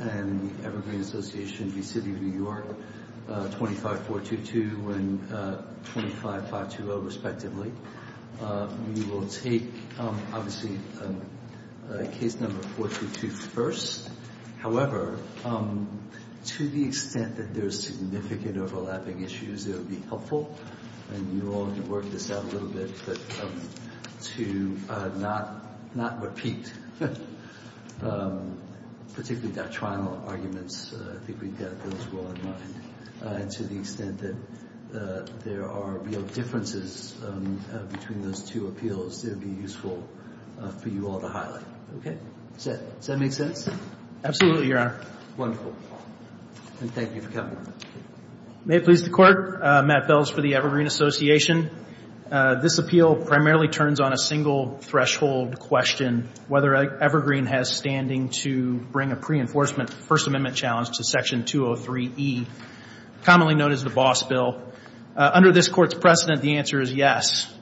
and the Evergreen Association v. City of New York, 25-422 and 25-520, respectively. We will take, obviously, case number 422 first. However, to the extent that there are significant overlapping issues, it would be helpful, and you all can work this out a little bit, to not repeat particularly doctrinal arguments. I think we've got those well in mind. And to the extent that there are real differences between those two appeals, it would be useful for you all to highlight. Okay? Does that make sense? Absolutely, Your Honor. Wonderful. And thank you for coming. May it please the Court, Matt Bells for the Evergreen Association. This appeal primarily turns on a single threshold question, whether Evergreen has standing to bring a pre-enforcement First Amendment challenge to Section 203e, commonly known as the Boss Bill. Under this Court's precedent, the answer is yes.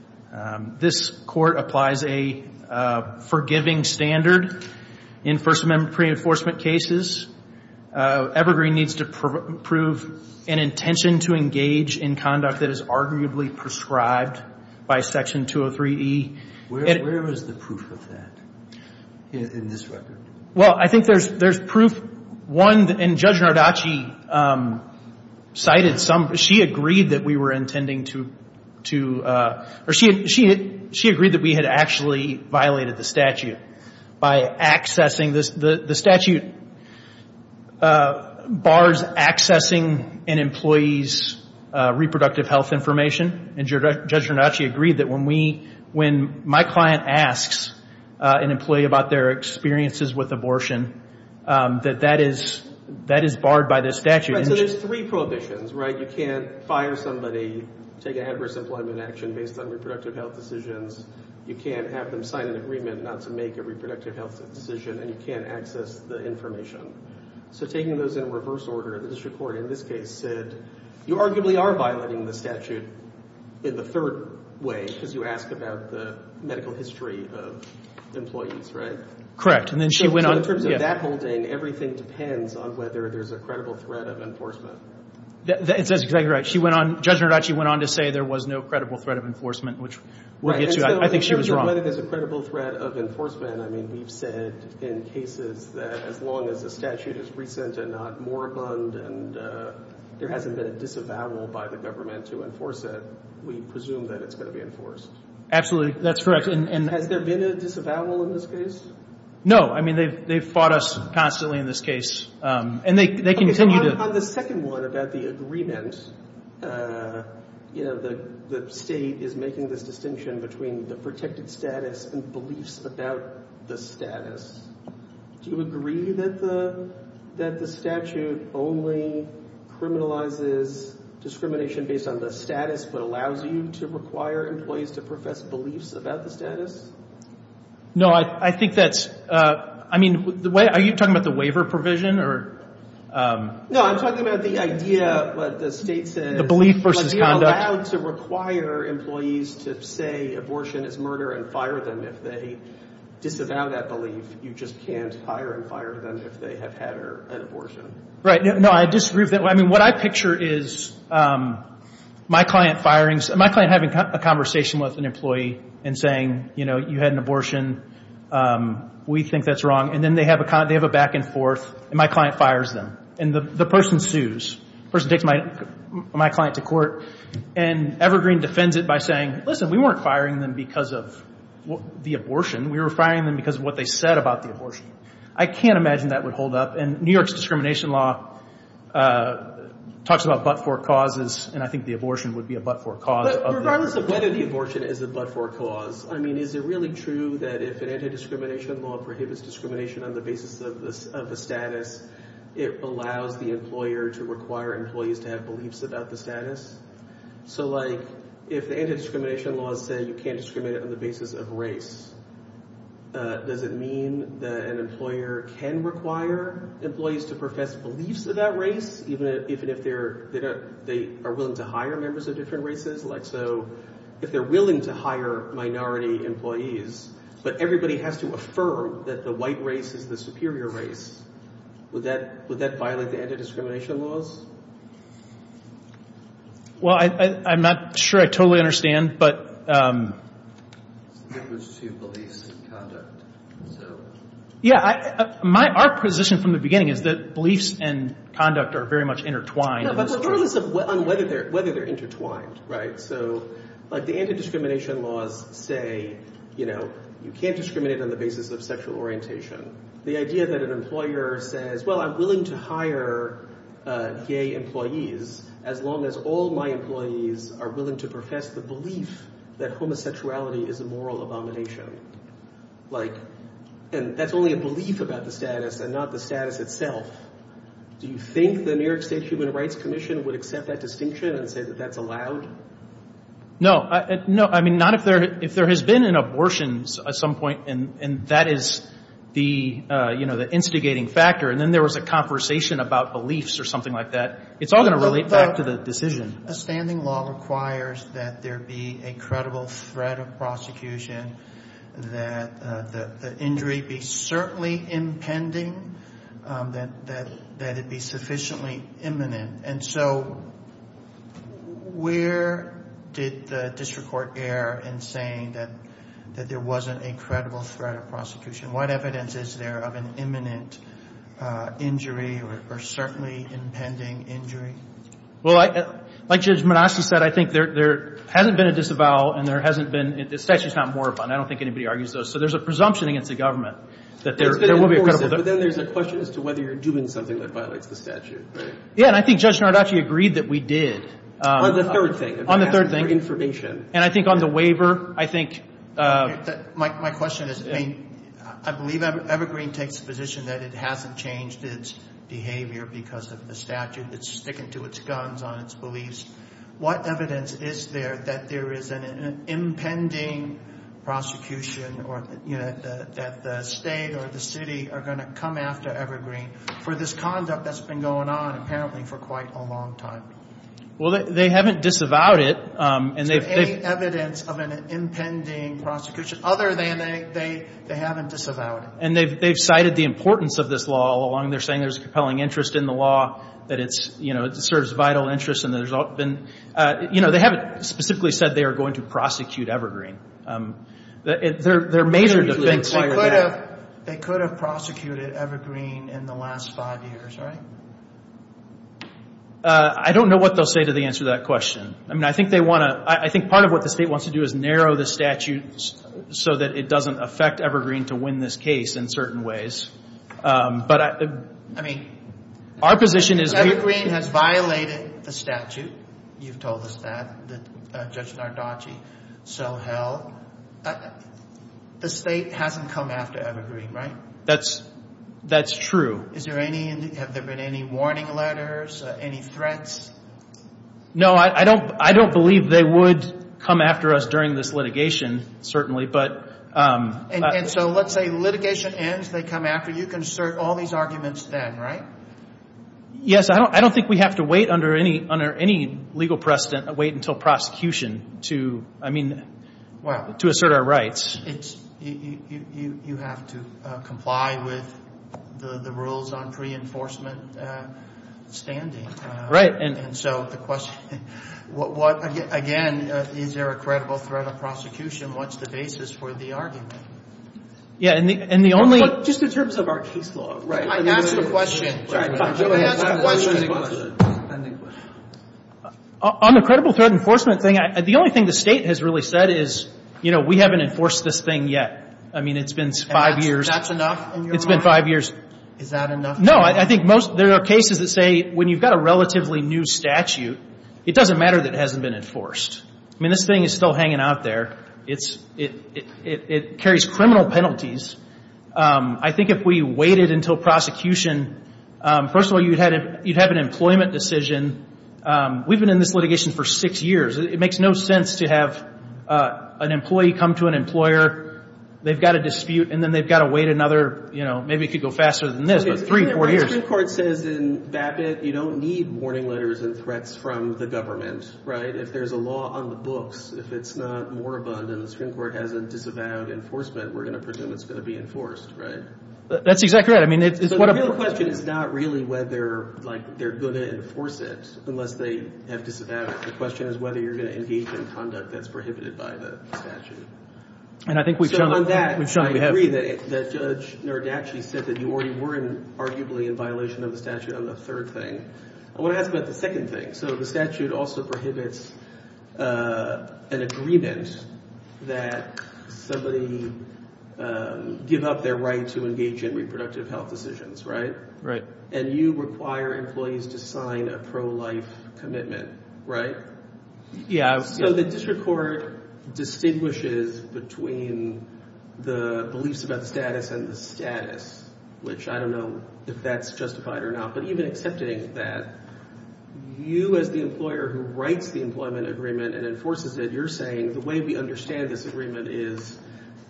This Court applies a forgiving standard in First Amendment pre-enforcement cases. Evergreen needs to prove an intention to engage in conduct that is arguably prescribed by Section 203e. Where is the proof of that in this record? Well, I think there's proof. One, and Judge Nardacci cited some. She agreed that we were intending to, or she agreed that we had actually violated the statute by accessing this. The statute bars accessing an employee's reproductive health information, and Judge Nardacci agreed that when we, when my client asks an employee about their experiences with abortion, that that is barred by this statute. Right, so there's three prohibitions, right? You can't fire somebody, take an adverse employment action based on reproductive health decisions. You can't have them sign an agreement not to make a reproductive health decision, and you can't access the information. So taking those in reverse order, the district court in this case said, you arguably are violating the statute in the third way because you ask about the medical history of employees, right? Correct, and then she went on. So in terms of that holding, everything depends on whether there's a credible threat of enforcement. That's exactly right. She went on, Judge Nardacci went on to say there was no credible threat of enforcement, which would get you out. I think she was wrong. Right, and so in terms of whether there's a credible threat of enforcement, I mean, we've said in cases that as long as the statute is recent and not moribund and there hasn't been a disavowal by the government to enforce it, we presume that it's going to be enforced. Absolutely, that's correct. Has there been a disavowal in this case? No, I mean, they've fought us constantly in this case, and they continue to. And on the second one about the agreement, you know, the state is making this distinction between the protected status and beliefs about the status. Do you agree that the statute only criminalizes discrimination based on the status but allows you to require employees to profess beliefs about the status? No, I think that's, I mean, are you talking about the waiver provision? No, I'm talking about the idea, what the state says. The belief versus conduct. But they're allowed to require employees to say abortion is murder and fire them. If they disavow that belief, you just can't fire and fire them if they have had an abortion. Right, no, I disagree with that. I mean, what I picture is my client firing, my client having a conversation with an employee and saying, you know, you had an abortion, we think that's wrong. And then they have a back and forth, and my client fires them. And the person sues. The person takes my client to court, and Evergreen defends it by saying, listen, we weren't firing them because of the abortion. We were firing them because of what they said about the abortion. I can't imagine that would hold up. And New York's discrimination law talks about but-for causes, and I think the abortion would be a but-for cause. Regardless of whether the abortion is a but-for cause, I mean, is it really true that if an anti-discrimination law prohibits discrimination on the basis of a status, it allows the employer to require employees to have beliefs about the status? So, like, if anti-discrimination laws say you can't discriminate on the basis of race, does it mean that an employer can require employees to profess beliefs about race, even if they are willing to hire members of different races? Like, so, if they're willing to hire minority employees, but everybody has to affirm that the white race is the superior race, would that violate the anti-discrimination laws? Well, I'm not sure I totally understand, but... Related to beliefs and conduct. Yeah, our position from the beginning is that beliefs and conduct are very much intertwined... Right, so, like, the anti-discrimination laws say, you know, you can't discriminate on the basis of sexual orientation. The idea that an employer says, well, I'm willing to hire gay employees as long as all my employees are willing to profess the belief that homosexuality is a moral abomination. Like, and that's only a belief about the status and not the status itself. Do you think the New York State Human Rights Commission would accept that distinction and say that that's allowed? No. No, I mean, not if there has been an abortions at some point, and that is the, you know, the instigating factor. And then there was a conversation about beliefs or something like that. It's all going to relate back to the decision. A standing law requires that there be a credible threat of prosecution, that the injury be certainly impending, that it be sufficiently imminent. And so where did the district court err in saying that there wasn't a credible threat of prosecution? What evidence is there of an imminent injury or certainly impending injury? Well, like Judge Minaski said, I think there hasn't been a disavowal and there hasn't been, the statute's not more abundant. I don't think anybody argues those. So there's a presumption against the government that there will be a credible threat. But then there's a question as to whether you're doing something that violates the statute, right? Yeah, and I think Judge Nardacci agreed that we did. On the third thing. On the third thing. And I think on the waiver, I think. My question is, I mean, I believe Evergreen takes the position that it hasn't changed its behavior because of the statute. It's sticking to its guns on its beliefs. What evidence is there that there is an impending prosecution or that the state or the city are going to come after Evergreen for this conduct that's been going on apparently for quite a long time? Well, they haven't disavowed it. So any evidence of an impending prosecution other than they haven't disavowed it? And they've cited the importance of this law all along. They're saying there's a compelling interest in the law, that it's, you know, it serves vital interests. And there's been, you know, they haven't specifically said they are going to prosecute Evergreen. Their major defense. They could have prosecuted Evergreen in the last five years, right? I don't know what they'll say to the answer to that question. I mean, I think they want to, I think part of what the state wants to do is narrow the statute so that it doesn't affect Evergreen to win this case in certain ways. But I mean, our position is... Evergreen has violated the statute. You've told us that, that Judge Nardacci so held. The state hasn't come after Evergreen, right? That's true. Is there any, have there been any warning letters, any threats? No, I don't believe they would come after us during this litigation, certainly, but... And so let's say litigation ends, they come after, you can assert all these arguments then, right? Yes, I don't think we have to wait under any legal precedent, wait until prosecution to, I mean, to assert our rights. You have to comply with the rules on pre-enforcement standing. Right. And so the question, what, again, is there a credible threat of prosecution? What's the basis for the argument? Yeah, and the only... Just in terms of our case law, right? I asked a question. On the credible threat enforcement thing, the only thing the state has really said is, you know, we haven't enforced this thing yet. I mean, it's been five years. That's enough in your mind? It's been five years. Is that enough? No, I think most, there are cases that say when you've got a relatively new statute, it doesn't matter that it hasn't been enforced. I mean, this thing is still hanging out there. It carries criminal penalties. I think if we waited until prosecution, first of all, you'd have an employment decision. We've been in this litigation for six years. It makes no sense to have an employee come to an employer, they've got a dispute, and then they've got to wait another, you know, maybe it could go faster than this. Three, four years. The Supreme Court says in BAPT you don't need warning letters and threats from the government, right? If there's a law on the books, if it's not more abundant, the Supreme Court hasn't disavowed enforcement, we're going to presume it's going to be enforced, right? That's exactly right. I mean, it's... The real question is not really whether, like, they're going to enforce it unless they have disavowed it. The question is whether you're going to engage in conduct that's prohibited by the statute. And I think we've shown that. We've shown that we have... I agree that Judge Nirdachi said that you already were arguably in violation of the statute on the third thing. I want to ask about the second thing. So the statute also prohibits an agreement that somebody give up their right to engage in reproductive health decisions, right? Right. And you require employees to sign a pro-life commitment, right? Yeah. So the district court distinguishes between the beliefs about the status and the status, which I don't know if that's justified or not. But even accepting that, you as the employer who writes the employment agreement and enforces it, you're saying the way we understand this agreement is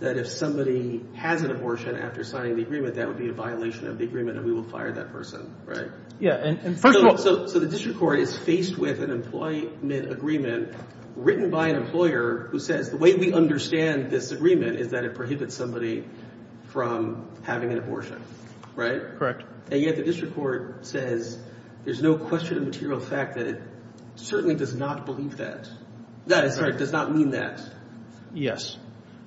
that if somebody has an abortion after signing the agreement, that would be a violation of the agreement and we will fire that person, right? Yeah. And first of all... So the district court is faced with an employment agreement written by an employer who says the way we understand this agreement is that it prohibits somebody from having an abortion, right? Correct. And yet the district court says there's no question of material fact that it certainly does not believe that. That does not mean that. Yes.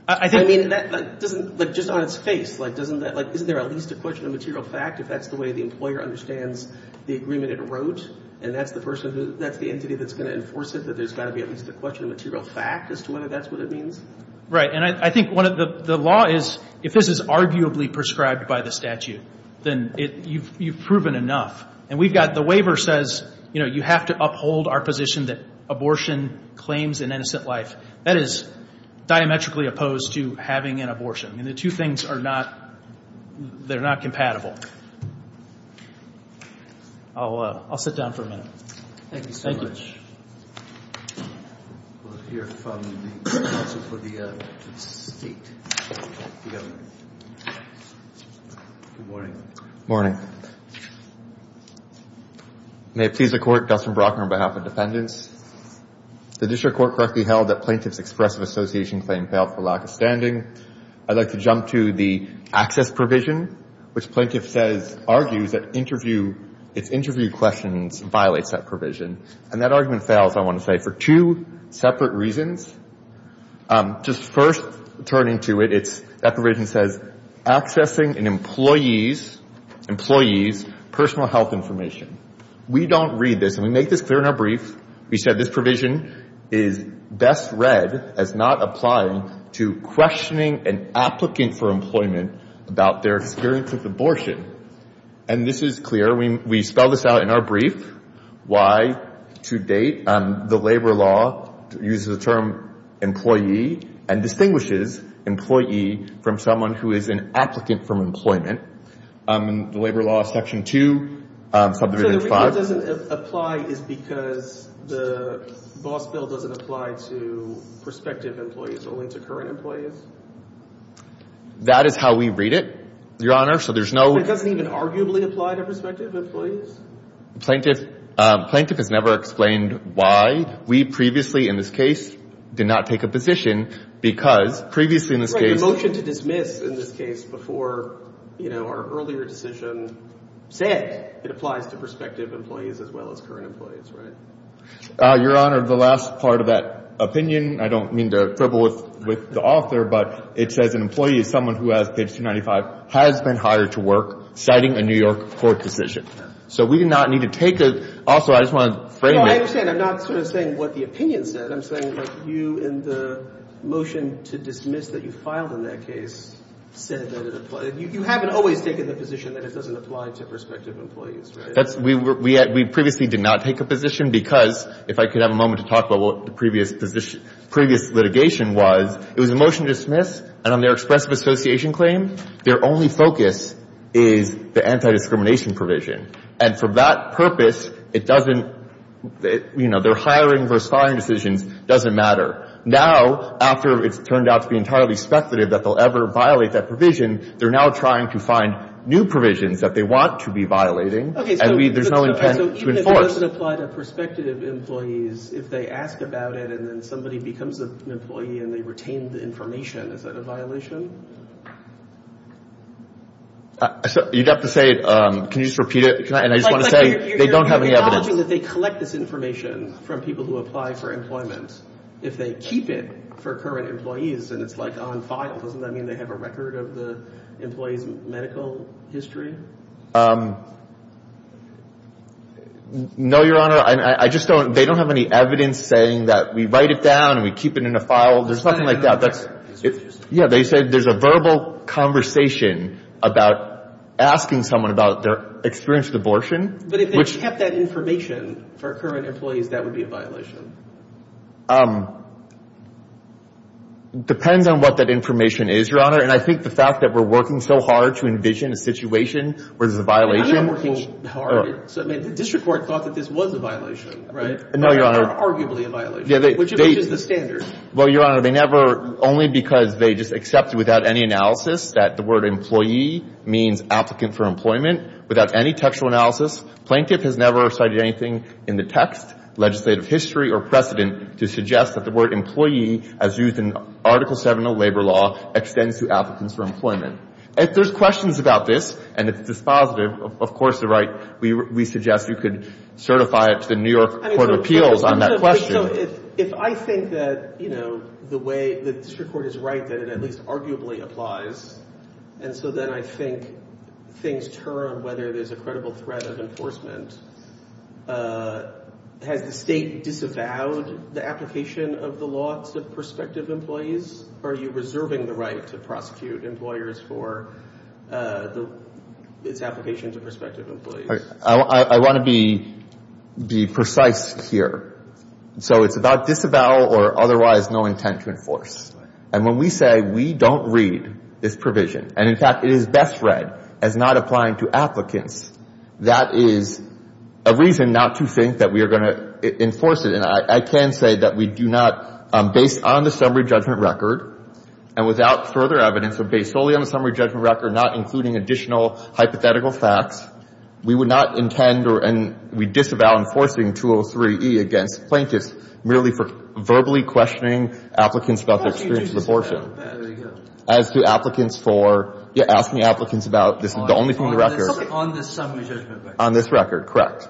I mean, that doesn't, like, just on its face, like, doesn't that, like, isn't there at least a question of material fact if that's the way the employer understands the agreement it wrote? And that's the person who, that's the entity that's going to enforce it, that there's got to be at least a question of material fact as to whether that's what it means? Right. And I think one of the, the law is if this is arguably prescribed by the statute, then you've proven enough. And we've got, the waiver says, you know, you have to uphold our position that abortion claims an innocent life. That is diametrically opposed to having an abortion. I mean, the two things are not, they're not compatible. I'll sit down for a minute. Thank you so much. We'll hear from the counsel for the state. Good morning. Morning. May it please the Court, Dustin Brockner on behalf of dependents. The district court correctly held that plaintiff's expressive association claim failed for lack of standing. I'd like to jump to the access provision, which plaintiff says, argues that interview, if interview questions violates that provision. And that argument fails, I want to say, for two separate reasons. Just first turning to it, it's, that provision says, accessing an employee's, employee's personal health information. We don't read this. And we make this clear in our brief. We said this provision is best read as not applying to questioning an applicant for employment about their experience with abortion. And this is clear. We spell this out in our brief. Why? To date, the labor law uses the term employee and distinguishes employee from someone who is an applicant for employment. The labor law section 2, subdivision 5. So the reason it doesn't apply is because the boss bill doesn't apply to prospective employees, only to current employees? That is how we read it, Your Honor. So there's no. It doesn't even arguably apply to prospective employees? Plaintiff, plaintiff has never explained why. We previously in this case did not take a position because previously in this case. The motion to dismiss in this case before, you know, our earlier decision said it applies to prospective employees as well as current employees, right? Your Honor, the last part of that opinion, I don't mean to quibble with the author, but it says an employee is someone who has page 295, has been hired to work, citing a New York court decision. So we do not need to take it. Also, I just want to frame it. No, I understand. I'm not sort of saying what the opinion said. I'm saying, like, you in the motion to dismiss that you filed in that case said that it applies. You haven't always taken the position that it doesn't apply to prospective employees, right? We previously did not take a position because, if I could have a moment to talk about what the previous litigation was, it was a motion to dismiss, and on their expressive association claim, their only focus is the anti-discrimination provision. And for that purpose, it doesn't, you know, their hiring versus firing decisions doesn't matter. Now, after it's turned out to be entirely speculative that they'll ever violate that provision, they're now trying to find new provisions that they want to be violating, and there's no intent to enforce. So even if it doesn't apply to prospective employees, if they ask about it and then somebody becomes an employee and they retain the information, is that a violation? You'd have to say it. Can you just repeat it? And I just want to say they don't have any evidence. You're acknowledging that they collect this information from people who apply for employment. If they keep it for current employees and it's, like, on file, doesn't that mean they have a record of the employee's medical history? No, Your Honor. I just don't. They don't have any evidence saying that we write it down and we keep it in a file. There's nothing like that. Yeah, they said there's a verbal conversation about asking someone about their experience with abortion. But if they kept that information for current employees, that would be a violation. Depends on what that information is, Your Honor, and I think the fact that we're working so hard to envision a situation where there's a violation. I'm not working hard. I mean, the district court thought that this was a violation, right? No, Your Honor. Or arguably a violation, which is the standard. Well, Your Honor, they never – only because they just accepted without any analysis that the word employee means applicant for employment. Without any textual analysis, plaintiff has never cited anything in the text, legislative history, or precedent to suggest that the word employee, as used in Article 7 of labor law, extends to applicants for employment. If there's questions about this and it's dispositive, of course, you're right. We suggest you could certify it to the New York Court of Appeals on that question. So if I think that, you know, the way the district court is right, that it at least arguably applies, and so then I think things turn whether there's a credible threat of enforcement. Has the state disavowed the application of the law to prospective employees? Are you reserving the right to prosecute employers for its application to prospective employees? I want to be precise here. So it's about disavow or otherwise no intent to enforce. And when we say we don't read this provision, and in fact it is best read as not applying to applicants, that is a reason not to think that we are going to enforce it. And I can say that we do not, based on the summary judgment record, and without further evidence or based solely on the summary judgment record, not including additional hypothetical facts, we would not intend or we disavow enforcing 203E against plaintiffs merely for verbally questioning applicants about their experience with abortion. As to applicants for asking applicants about the only thing in the record. On this summary judgment record. On this record, correct.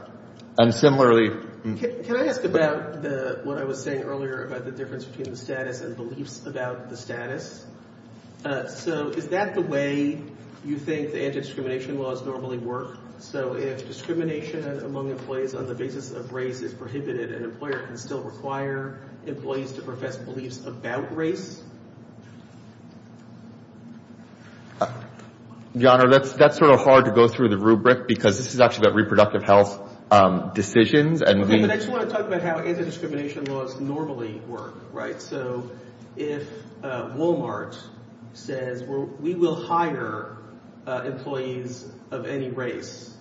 And similarly. Can I ask about what I was saying earlier about the difference between the status and beliefs about the status? So is that the way you think the anti-discrimination laws normally work? So if discrimination among employees on the basis of race is prohibited, an employer can still require employees to profess beliefs about race? Your Honor, that's sort of hard to go through the rubric, because this is actually about reproductive health decisions. I just want to talk about how anti-discrimination laws normally work. So if Walmart says, we will hire employees of any race,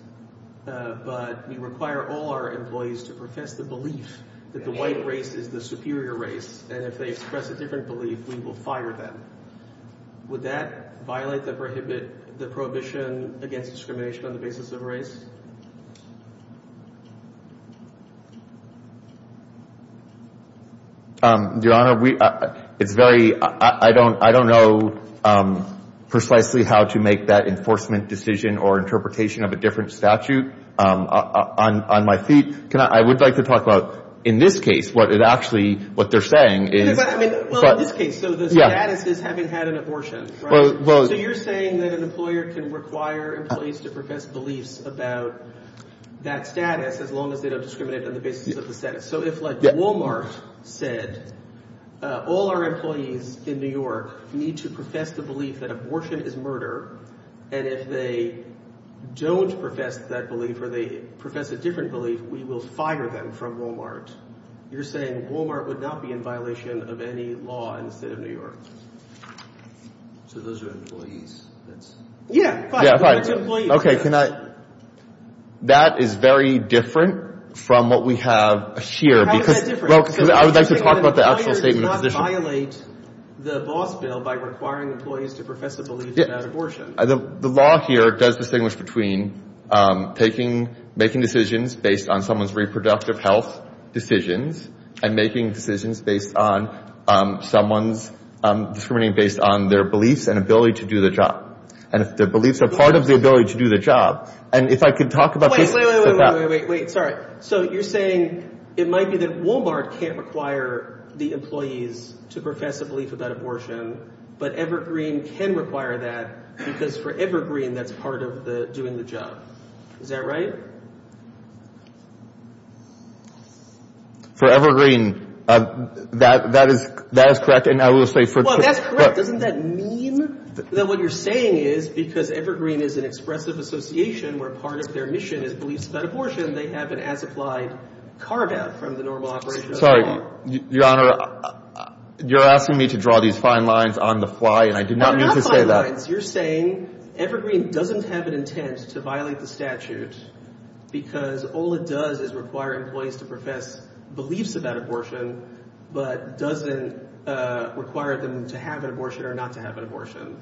but we require all our employees to profess the belief that the white race is the superior race, and if they express a different belief, we will fire them. Would that violate the prohibition against discrimination on the basis of race? Your Honor, it's very – I don't know precisely how to make that enforcement decision or interpretation of a different statute on my feet. I would like to talk about, in this case, what it actually – what they're saying is. Well, in this case, so the status is having had an abortion, right? So you're saying that an employer can require employees to profess beliefs about race. That status, as long as they don't discriminate on the basis of the status. So if, like, Walmart said, all our employees in New York need to profess the belief that abortion is murder, and if they don't profess that belief or they profess a different belief, we will fire them from Walmart. You're saying Walmart would not be in violation of any law in the State of New York. So those are employees. Yeah, fine. Okay, can I – that is very different from what we have here because – How is that different? Well, I would like to talk about the actual statement of position. So you're saying that employers do not violate the boss bill by requiring employees to profess a belief about abortion. The law here does distinguish between taking – making decisions based on someone's reproductive health decisions and making decisions based on someone's – discriminating based on their beliefs and ability to do the job. And if their beliefs are part of the ability to do the job. And if I could talk about – Wait, wait, wait, wait, wait, wait. Sorry. So you're saying it might be that Walmart can't require the employees to profess a belief about abortion, but Evergreen can require that because for Evergreen, that's part of doing the job. Is that right? For Evergreen, that is correct, and I will say for – Hold on, that's correct. Doesn't that mean that what you're saying is because Evergreen is an expressive association where part of their mission is beliefs about abortion, they have an as-applied carve-out from the normal operation of the law? Sorry, Your Honor, you're asking me to draw these fine lines on the fly, and I do not mean to say that. They're not fine lines. You're saying Evergreen doesn't have an intent to violate the statute because all it does is require employees to profess beliefs about abortion but doesn't require them to have an abortion or not to have an abortion.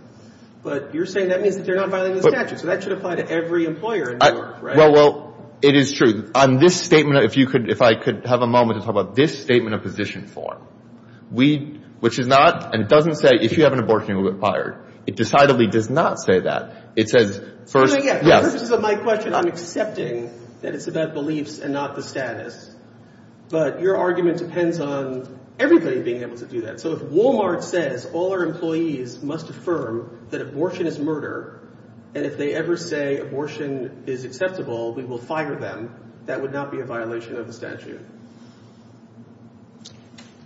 But you're saying that means that they're not violating the statute, so that should apply to every employer in New York, right? Well, it is true. On this statement, if I could have a moment to talk about this statement of position form, which is not – and it doesn't say if you have an abortion, you're required. It decidedly does not say that. It says first – But your argument depends on everybody being able to do that. So if Walmart says all our employees must affirm that abortion is murder, and if they ever say abortion is acceptable, we will fire them, that would not be a violation of the statute.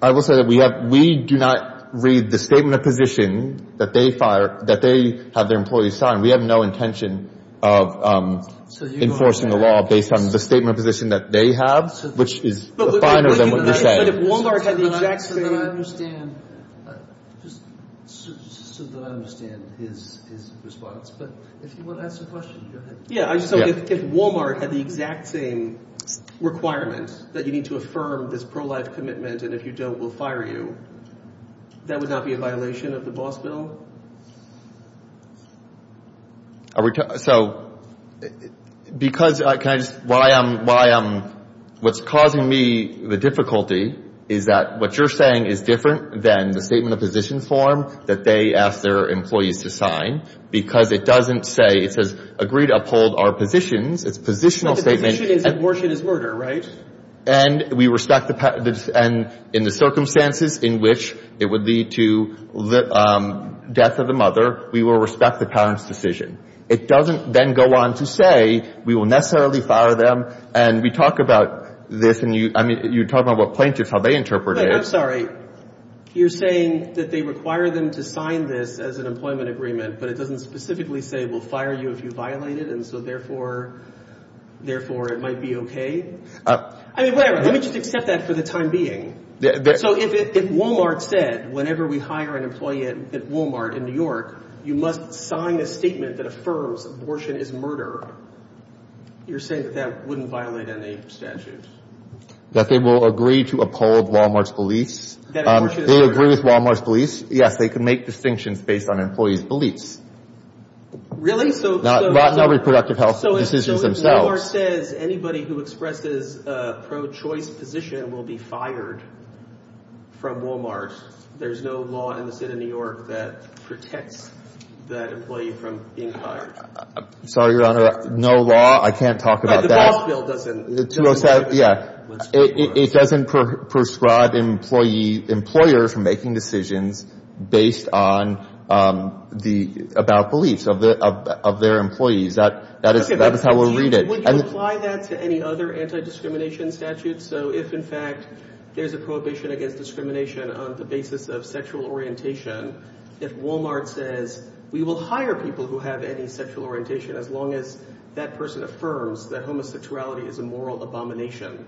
I will say that we do not read the statement of position that they have their employees sign. We have no intention of enforcing the law based on the statement of position that they have, which is finer than what you're saying. But if Walmart had the exact same – Just so that I understand his response, but if you want to ask a question, go ahead. Yeah, so if Walmart had the exact same requirement that you need to affirm this pro-life commitment and if you don't, we'll fire you, that would not be a violation of the boss bill? So because – can I just – what I am – what's causing me the difficulty is that what you're saying is different than the statement of position form that they ask their employees to sign because it doesn't say – it says agree to uphold our positions. It's a positional statement. But the position is abortion is murder, right? And we respect the – and in the circumstances in which it would lead to the death of the mother, we will respect the parent's decision. It doesn't then go on to say we will necessarily fire them. And we talk about this, and you talk about what plaintiffs, how they interpret it. I'm sorry. You're saying that they require them to sign this as an employment agreement, but it doesn't specifically say we'll fire you if you violate it, and so therefore it might be okay? I mean, whatever. Let me just accept that for the time being. So if Walmart said whenever we hire an employee at Walmart in New York, you must sign a statement that affirms abortion is murder, you're saying that that wouldn't violate any statutes? That they will agree to uphold Walmart's beliefs. That abortion is murder. They agree with Walmart's beliefs. Yes, they can make distinctions based on employees' beliefs. Really? Not reproductive health decisions themselves. If Walmart says anybody who expresses a pro-choice position will be fired from Walmart, there's no law in the state of New York that protects that employee from being fired. Sorry, Your Honor. No law? I can't talk about that. But the boss bill doesn't. Yeah. It doesn't prescribe employers from making decisions based on the beliefs of their employees. That is how we'll read it. Would you apply that to any other anti-discrimination statute? So if, in fact, there's a prohibition against discrimination on the basis of sexual orientation, if Walmart says we will hire people who have any sexual orientation as long as that person affirms that homosexuality is a moral abomination,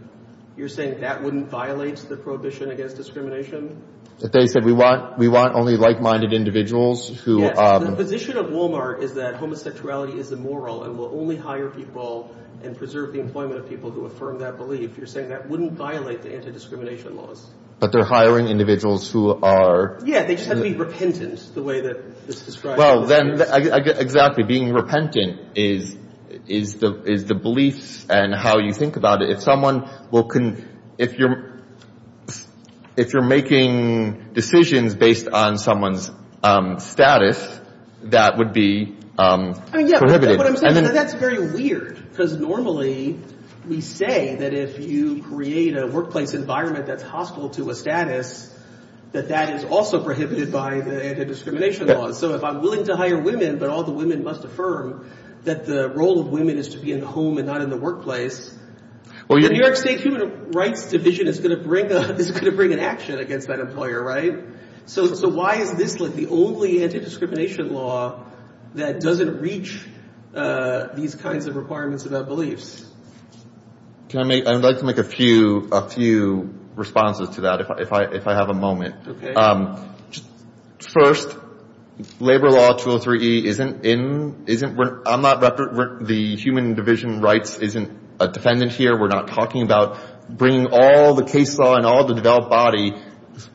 you're saying that wouldn't violate the prohibition against discrimination? If they said we want only like-minded individuals who – If the position of Walmart is that homosexuality is immoral and will only hire people and preserve the employment of people who affirm that belief, you're saying that wouldn't violate the anti-discrimination laws? But they're hiring individuals who are – Yeah, they just have to be repentant, the way that this is described. Exactly. Being repentant is the beliefs and how you think about it. If you're making decisions based on someone's status, that would be prohibited. Yeah, but what I'm saying is that that's very weird because normally we say that if you create a workplace environment that's hostile to a status, that that is also prohibited by the anti-discrimination laws. So if I'm willing to hire women but all the women must affirm that the role of women is to be in the home and not in the workplace, the New York State Human Rights Division is going to bring an action against that employer, right? So why is this like the only anti-discrimination law that doesn't reach these kinds of requirements about beliefs? I'd like to make a few responses to that if I have a moment. Okay. First, Labor Law 203E isn't in – isn't – I'm not – the Human Division of Rights isn't a defendant here. We're not talking about bringing all the case law and all the developed body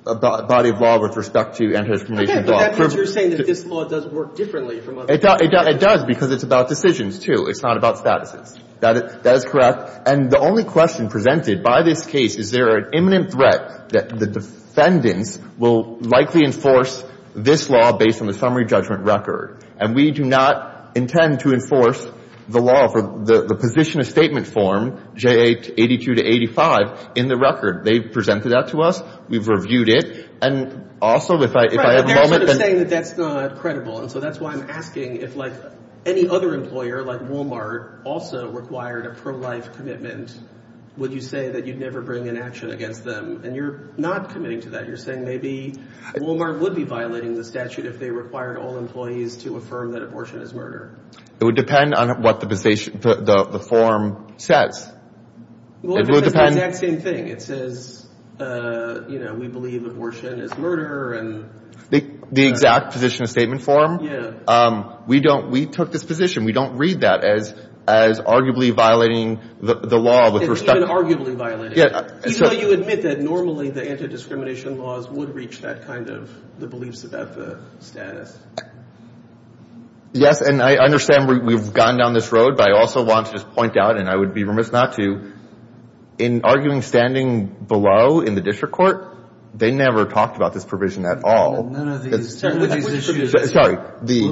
of law with respect to anti-discrimination law. Okay, but that means you're saying that this law does work differently from other laws. It does because it's about decisions, too. It's not about statuses. That is correct. And the only question presented by this case is there are imminent threat that the defendants will likely enforce this law based on the summary judgment record. And we do not intend to enforce the law for the position of statement form, J.A. 82 to 85, in the record. They've presented that to us. We've reviewed it. And also, if I have a moment, then – Right, but they're sort of saying that that's not credible. And so that's why I'm asking if, like, any other employer like Walmart also required a pro-life commitment, would you say that you'd never bring an action against them? And you're not committing to that. You're saying maybe Walmart would be violating the statute if they required all employees to affirm that abortion is murder. It would depend on what the position – the form says. It would depend – Well, it would say the exact same thing. It says, you know, we believe abortion is murder and – The exact position of statement form. Yeah. We don't – we took this position. We don't read that as arguably violating the law with respect to – It's even arguably violating it. Even though you admit that normally the anti-discrimination laws would reach that kind of – the beliefs about the status. Yes, and I understand we've gone down this road, but I also want to just point out, and I would be remiss not to, in arguing standing below in the district court, they never talked about this provision at all. None of these – none of these issues. Sorry.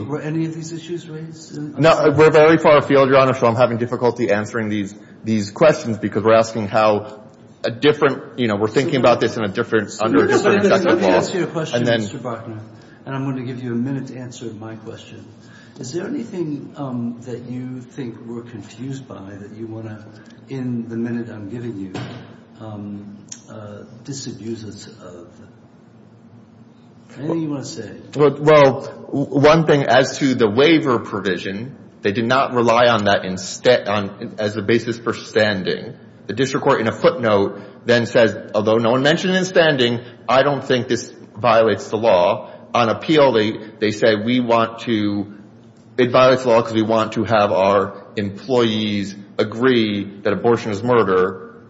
Were any of these issues raised? No. We're very far afield, Your Honor, so I'm having difficulty answering these questions because we're asking how a different – you know, we're thinking about this in a different – under a different executive law. Let me ask you a question, Mr. Buckner, and I'm going to give you a minute to answer my question. Is there anything that you think we're confused by that you want to, in the minute I'm giving you, disabuse us of? Anything you want to say? Well, one thing, as to the waiver provision, they did not rely on that as a basis for standing. The district court, in a footnote, then says, although no one mentioned it in standing, I don't think this violates the law. On appeal, they say we want to – it violates the law because we want to have our employees agree that abortion is murder,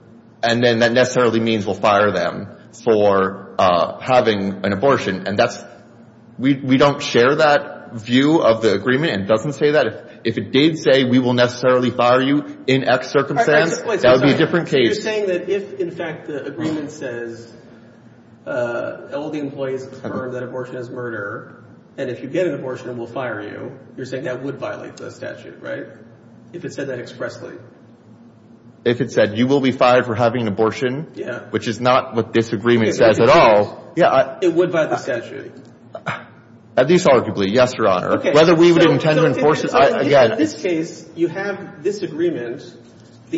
and then that necessarily means we'll fire them for having an abortion. And that's – we don't share that view of the agreement. It doesn't say that. If it did say we will necessarily fire you in X circumstance, that would be a different case. So you're saying that if, in fact, the agreement says all the employees confirm that abortion is murder, and if you get an abortion, we'll fire you, you're saying that would violate the statute, right? If it said that expressly. If it said you will be fired for having an abortion, which is not what this agreement says at all. It would violate the statute. At least arguably, yes, Your Honor. Whether we would intend to enforce it, again –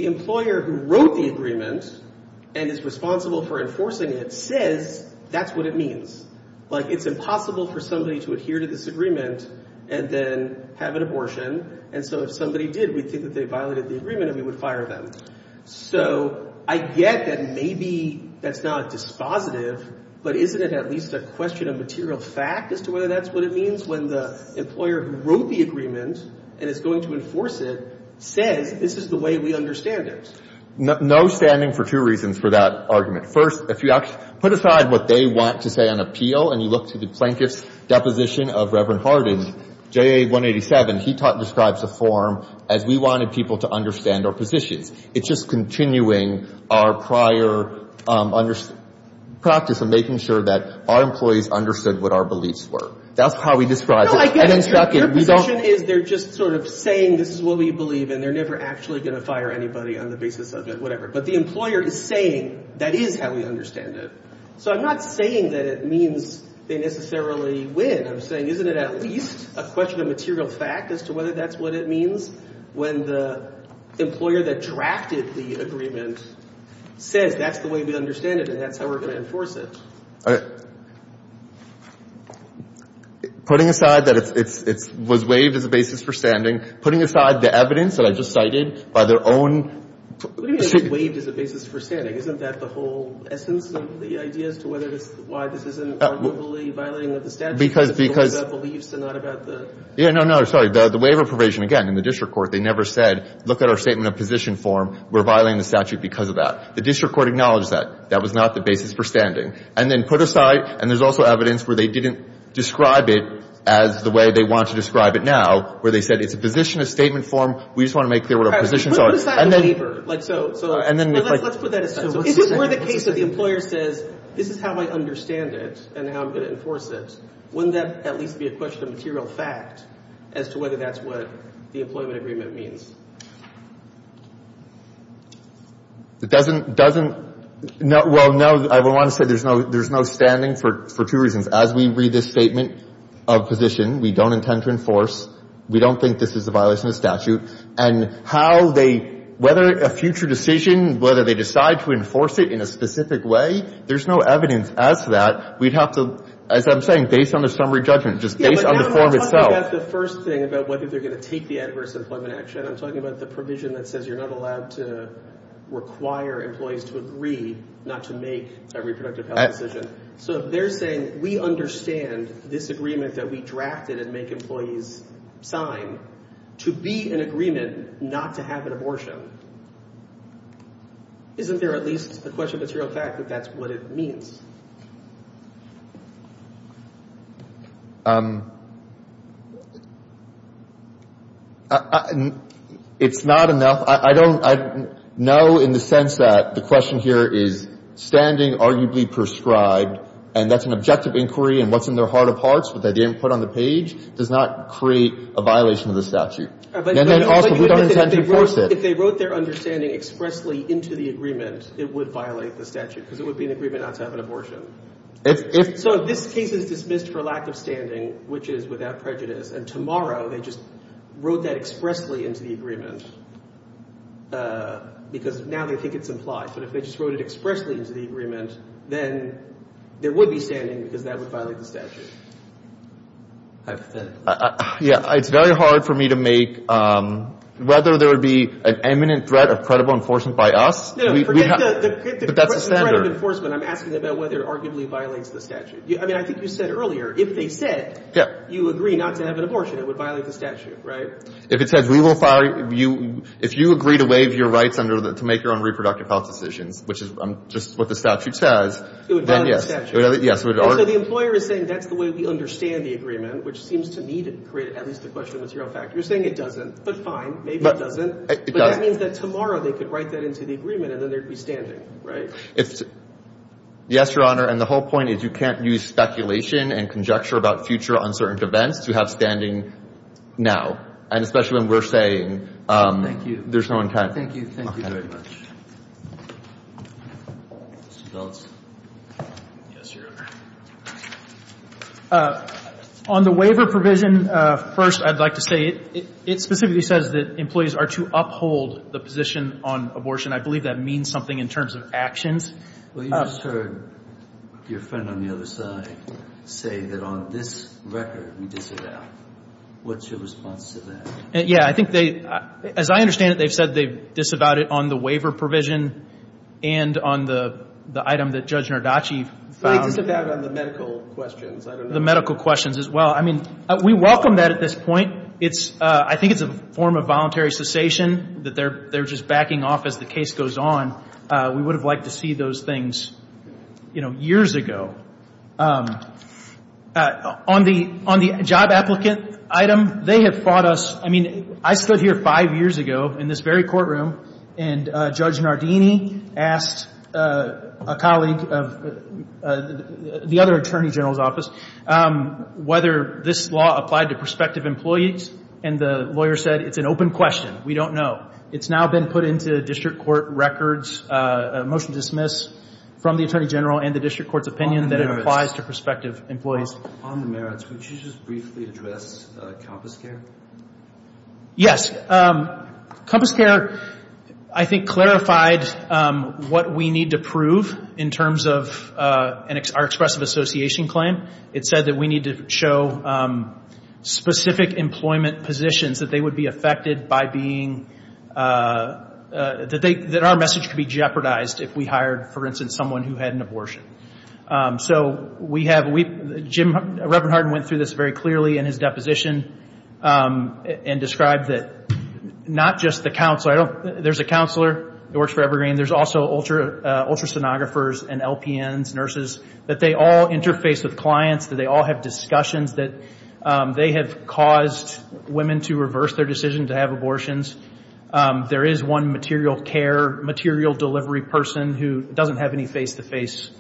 and is responsible for enforcing it, says that's what it means. Like, it's impossible for somebody to adhere to this agreement and then have an abortion. And so if somebody did, we'd think that they violated the agreement and we would fire them. So I get that maybe that's not dispositive, but isn't it at least a question of material fact as to whether that's what it means when the employer who wrote the agreement and is going to enforce it says this is the way we understand it? No standing for two reasons for that argument. First, if you put aside what they want to say on appeal and you look to the plaintiff's deposition of Reverend Hardin, JA 187, he describes the form as we wanted people to understand our positions. It's just continuing our prior practice of making sure that our employees understood what our beliefs were. That's how we describe it. No, I get it. Your position is they're just sort of saying this is what we believe and they're never actually going to fire anybody on the basis of it, whatever. But the employer is saying that is how we understand it. So I'm not saying that it means they necessarily win. I'm saying isn't it at least a question of material fact as to whether that's what it means when the employer that drafted the agreement says that's the way we understand it and that's how we're going to enforce it? Putting aside that it was waived as a basis for standing, putting aside the evidence that I just cited by their own — What do you mean it was waived as a basis for standing? Isn't that the whole essence of the idea as to whether it's — why this isn't arguably violating of the statute? Because — because — It's more about beliefs and not about the — Yeah, no, no, sorry. The waiver provision, again, in the district court, they never said look at our statement of position form. We're violating the statute because of that. The district court acknowledged that. That was not the basis for standing. And then put aside — and there's also evidence where they didn't describe it as the way they want to describe it now, where they said it's a position of statement form. We just want to make clear what our positions are. Put aside the waiver. Like, so — And then we — Let's put that aside. Is this where the case of the employer says this is how I understand it and how I'm going to enforce it? Wouldn't that at least be a question of material fact as to whether that's what the employment agreement means? It doesn't — doesn't — well, no, I would want to say there's no — there's no standing for two reasons. As we read this statement of position, we don't intend to enforce. We don't think this is a violation of statute. And how they — whether a future decision, whether they decide to enforce it in a specific way, there's no evidence as to that. We'd have to — as I'm saying, based on the summary judgment, just based on the form itself. Yeah, but I'm not talking about the first thing, about whether they're going to take the adverse employment action. I'm talking about the provision that says you're not allowed to require employees to agree not to make a reproductive health decision. So if they're saying we understand this agreement that we drafted and make employees sign to be an agreement not to have an abortion, isn't there at least a question of material fact that that's what it means? It's not enough. I don't — no, in the sense that the question here is standing arguably prescribed, and that's an objective inquiry and what's in their heart of hearts, but they didn't put on the page, does not create a violation of the statute. And then also, we don't intend to enforce it. If they wrote their understanding expressly into the agreement, it would violate the statute, because it would be an agreement not to have an abortion. So if this case is dismissed for lack of standing, which is without prejudice, and tomorrow they just wrote that expressly into the agreement because now they think it's implied, but if they just wrote it expressly into the agreement, then there would be standing because that would violate the statute. Yeah, it's very hard for me to make — whether there would be an imminent threat of credible enforcement by us — But that's the standard. The threat of enforcement, I'm asking about whether it arguably violates the statute. I mean, I think you said earlier, if they said you agree not to have an abortion, it would violate the statute, right? If it said we will — if you agree to waive your rights to make your own reproductive health decisions, which is just what the statute says, then yes. It would violate the statute. Yes, it would. And so the employer is saying that's the way we understand the agreement, which seems to me to create at least a question of material fact. You're saying it doesn't, but fine, maybe it doesn't. It doesn't. It means that tomorrow they could write that into the agreement, and then there would be standing, right? Yes, Your Honor, and the whole point is you can't use speculation and conjecture about future uncertain events to have standing now, and especially when we're saying there's no intent. Thank you. Thank you very much. Mr. Phillips? Yes, Your Honor. On the waiver provision, first I'd like to say it specifically says that employees are to uphold the position on abortion. I believe that means something in terms of actions. Well, you just heard your friend on the other side say that on this record we disavow. What's your response to that? Yeah, I think they — as I understand it, they've said they've disavowed it on the waiver provision and on the item that Judge Nardacci found. They disavowed on the medical questions. The medical questions as well. I mean, we welcome that at this point. I think it's a form of voluntary cessation that they're just backing off as the case goes on. We would have liked to see those things, you know, years ago. On the job applicant item, they have fought us. I mean, I stood here five years ago in this very courtroom, and Judge Nardini asked a colleague of the other attorney general's office whether this law applied to prospective employees, and the lawyer said it's an open question. We don't know. It's now been put into district court records, a motion to dismiss from the attorney general and the district court's opinion that it applies to prospective employees. Upon the merits, would you just briefly address CompassCare? Yes. CompassCare, I think, clarified what we need to prove in terms of our expressive association claim. It said that we need to show specific employment positions that they would be affected by being, that our message could be jeopardized if we hired, for instance, someone who had an abortion. So we have, Jim, Reverend Hardin went through this very clearly in his deposition and described that not just the counselor, there's a counselor that works for Evergreen, there's also ultrasonographers and LPNs, nurses, that they all interface with clients, that they all have discussions that they have caused women to reverse their decision to have abortions. There is one material care, material delivery person who doesn't have any face-to-face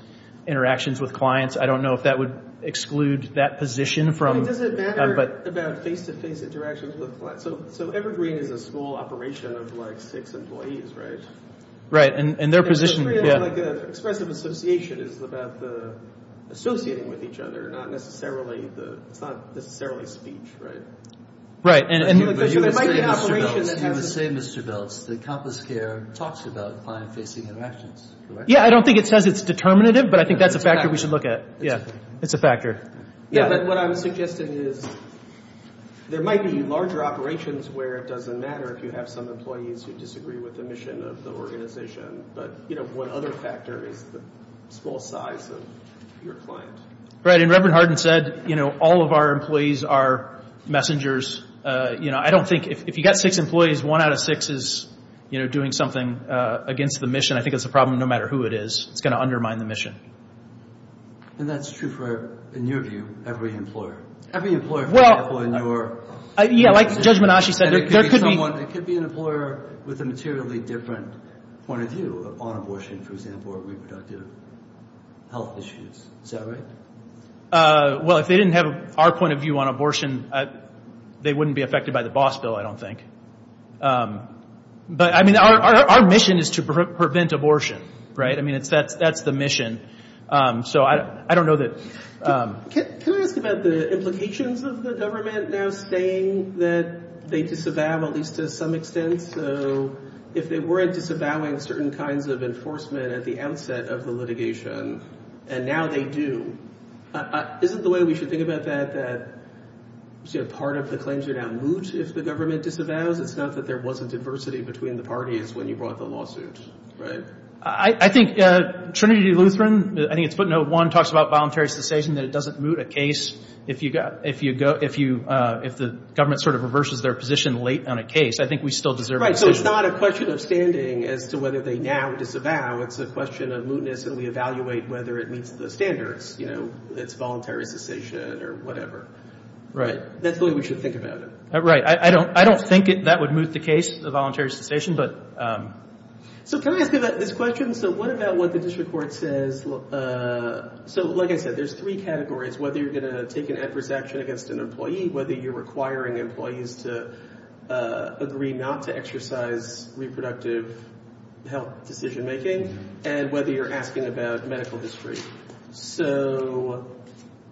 interactions with clients. I don't know if that would exclude that position. Does it matter about face-to-face interactions with clients? So Evergreen is a small operation of, like, six employees, right? Right, and their position, yeah. So for you, like, expressive association is about the associating with each other, not necessarily the, it's not necessarily speech, right? Right. But you would say, Mr. Belts, that CompassCare talks about client-facing interactions, correct? Yeah, I don't think it says it's determinative, but I think that's a factor we should look at. It's a factor. Yeah, but what I'm suggesting is there might be larger operations where it doesn't matter if you have some employees who disagree with the mission of the organization, but, you know, one other factor is the small size of your client. Right, and Reverend Hardin said, you know, all of our employees are messengers. You know, I don't think, if you've got six employees, one out of six is, you know, doing something against the mission. I think that's a problem no matter who it is. It's going to undermine the mission. And that's true for, in your view, every employer. Every employer, for example, in your... Yeah, like Judge Menasci said, there could be... It could be someone, it could be an employer with a materially different point of view on abortion, for example, or reproductive health issues. Is that right? Well, if they didn't have our point of view on abortion, they wouldn't be affected by the boss bill, I don't think. But, I mean, our mission is to prevent abortion, right? I mean, that's the mission. So I don't know that... Can I ask about the implications of the government now saying that they disavow, at least to some extent, so if they weren't disavowing certain kinds of enforcement at the outset of the litigation, and now they do, isn't the way we should think about that, that part of the claims are now moot if the government disavows? It's not that there wasn't adversity between the parties when you brought the lawsuit, right? I think Trinity Lutheran, I think it's footnote one, talks about voluntary cessation, that it doesn't moot a case. If the government sort of reverses their position late on a case, I think we still deserve... Right, so it's not a question of standing as to whether they now disavow, it's a question of mootness and we evaluate whether it meets the standards, you know, it's voluntary cessation or whatever. Right. That's the way we should think about it. Right, I don't think that would moot the case, the voluntary cessation, but... So can I ask you about this question? So what about what the district court says... So, like I said, there's three categories, whether you're going to take an adverse action against an employee, whether you're requiring employees to agree not to exercise reproductive health decision-making, and whether you're asking about medical history. So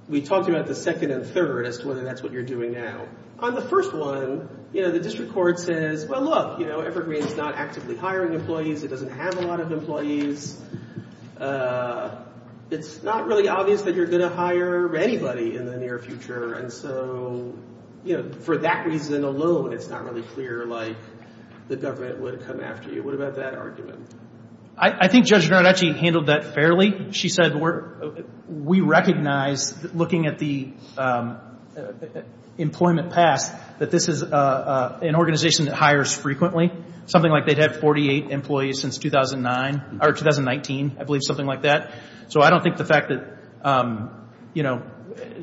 we talked about the second and third as to whether that's what you're doing now. On the first one, you know, the district court says, well, look, you know, Evergreen is not actively hiring employees, it doesn't have a lot of employees, it's not really obvious that you're going to hire anybody in the near future, and so, you know, for that reason alone, it's not really clear, like, the government would come after you. What about that argument? I think Judge Harden actually handled that fairly. She said we recognize, looking at the employment past, that this is an organization that hires frequently, something like they've had 48 employees since 2009, or 2019, I believe, something like that. So I don't think the fact that, you know,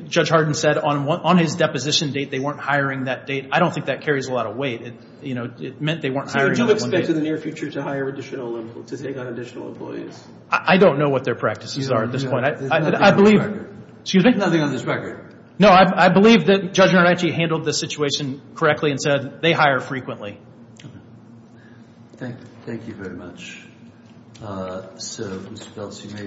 Judge Harden said on his deposition date they weren't hiring that date, I don't think that carries a lot of weight. You know, it meant they weren't hiring on that one date. So do you expect in the near future to hire additional employees, to take on additional employees? I don't know what their practices are at this point. There's nothing on this record. Excuse me? There's nothing on this record. No, I believe that Judge Naranchi handled the situation correctly and said they hire frequently. Okay. Thank you very much. Thank you very much.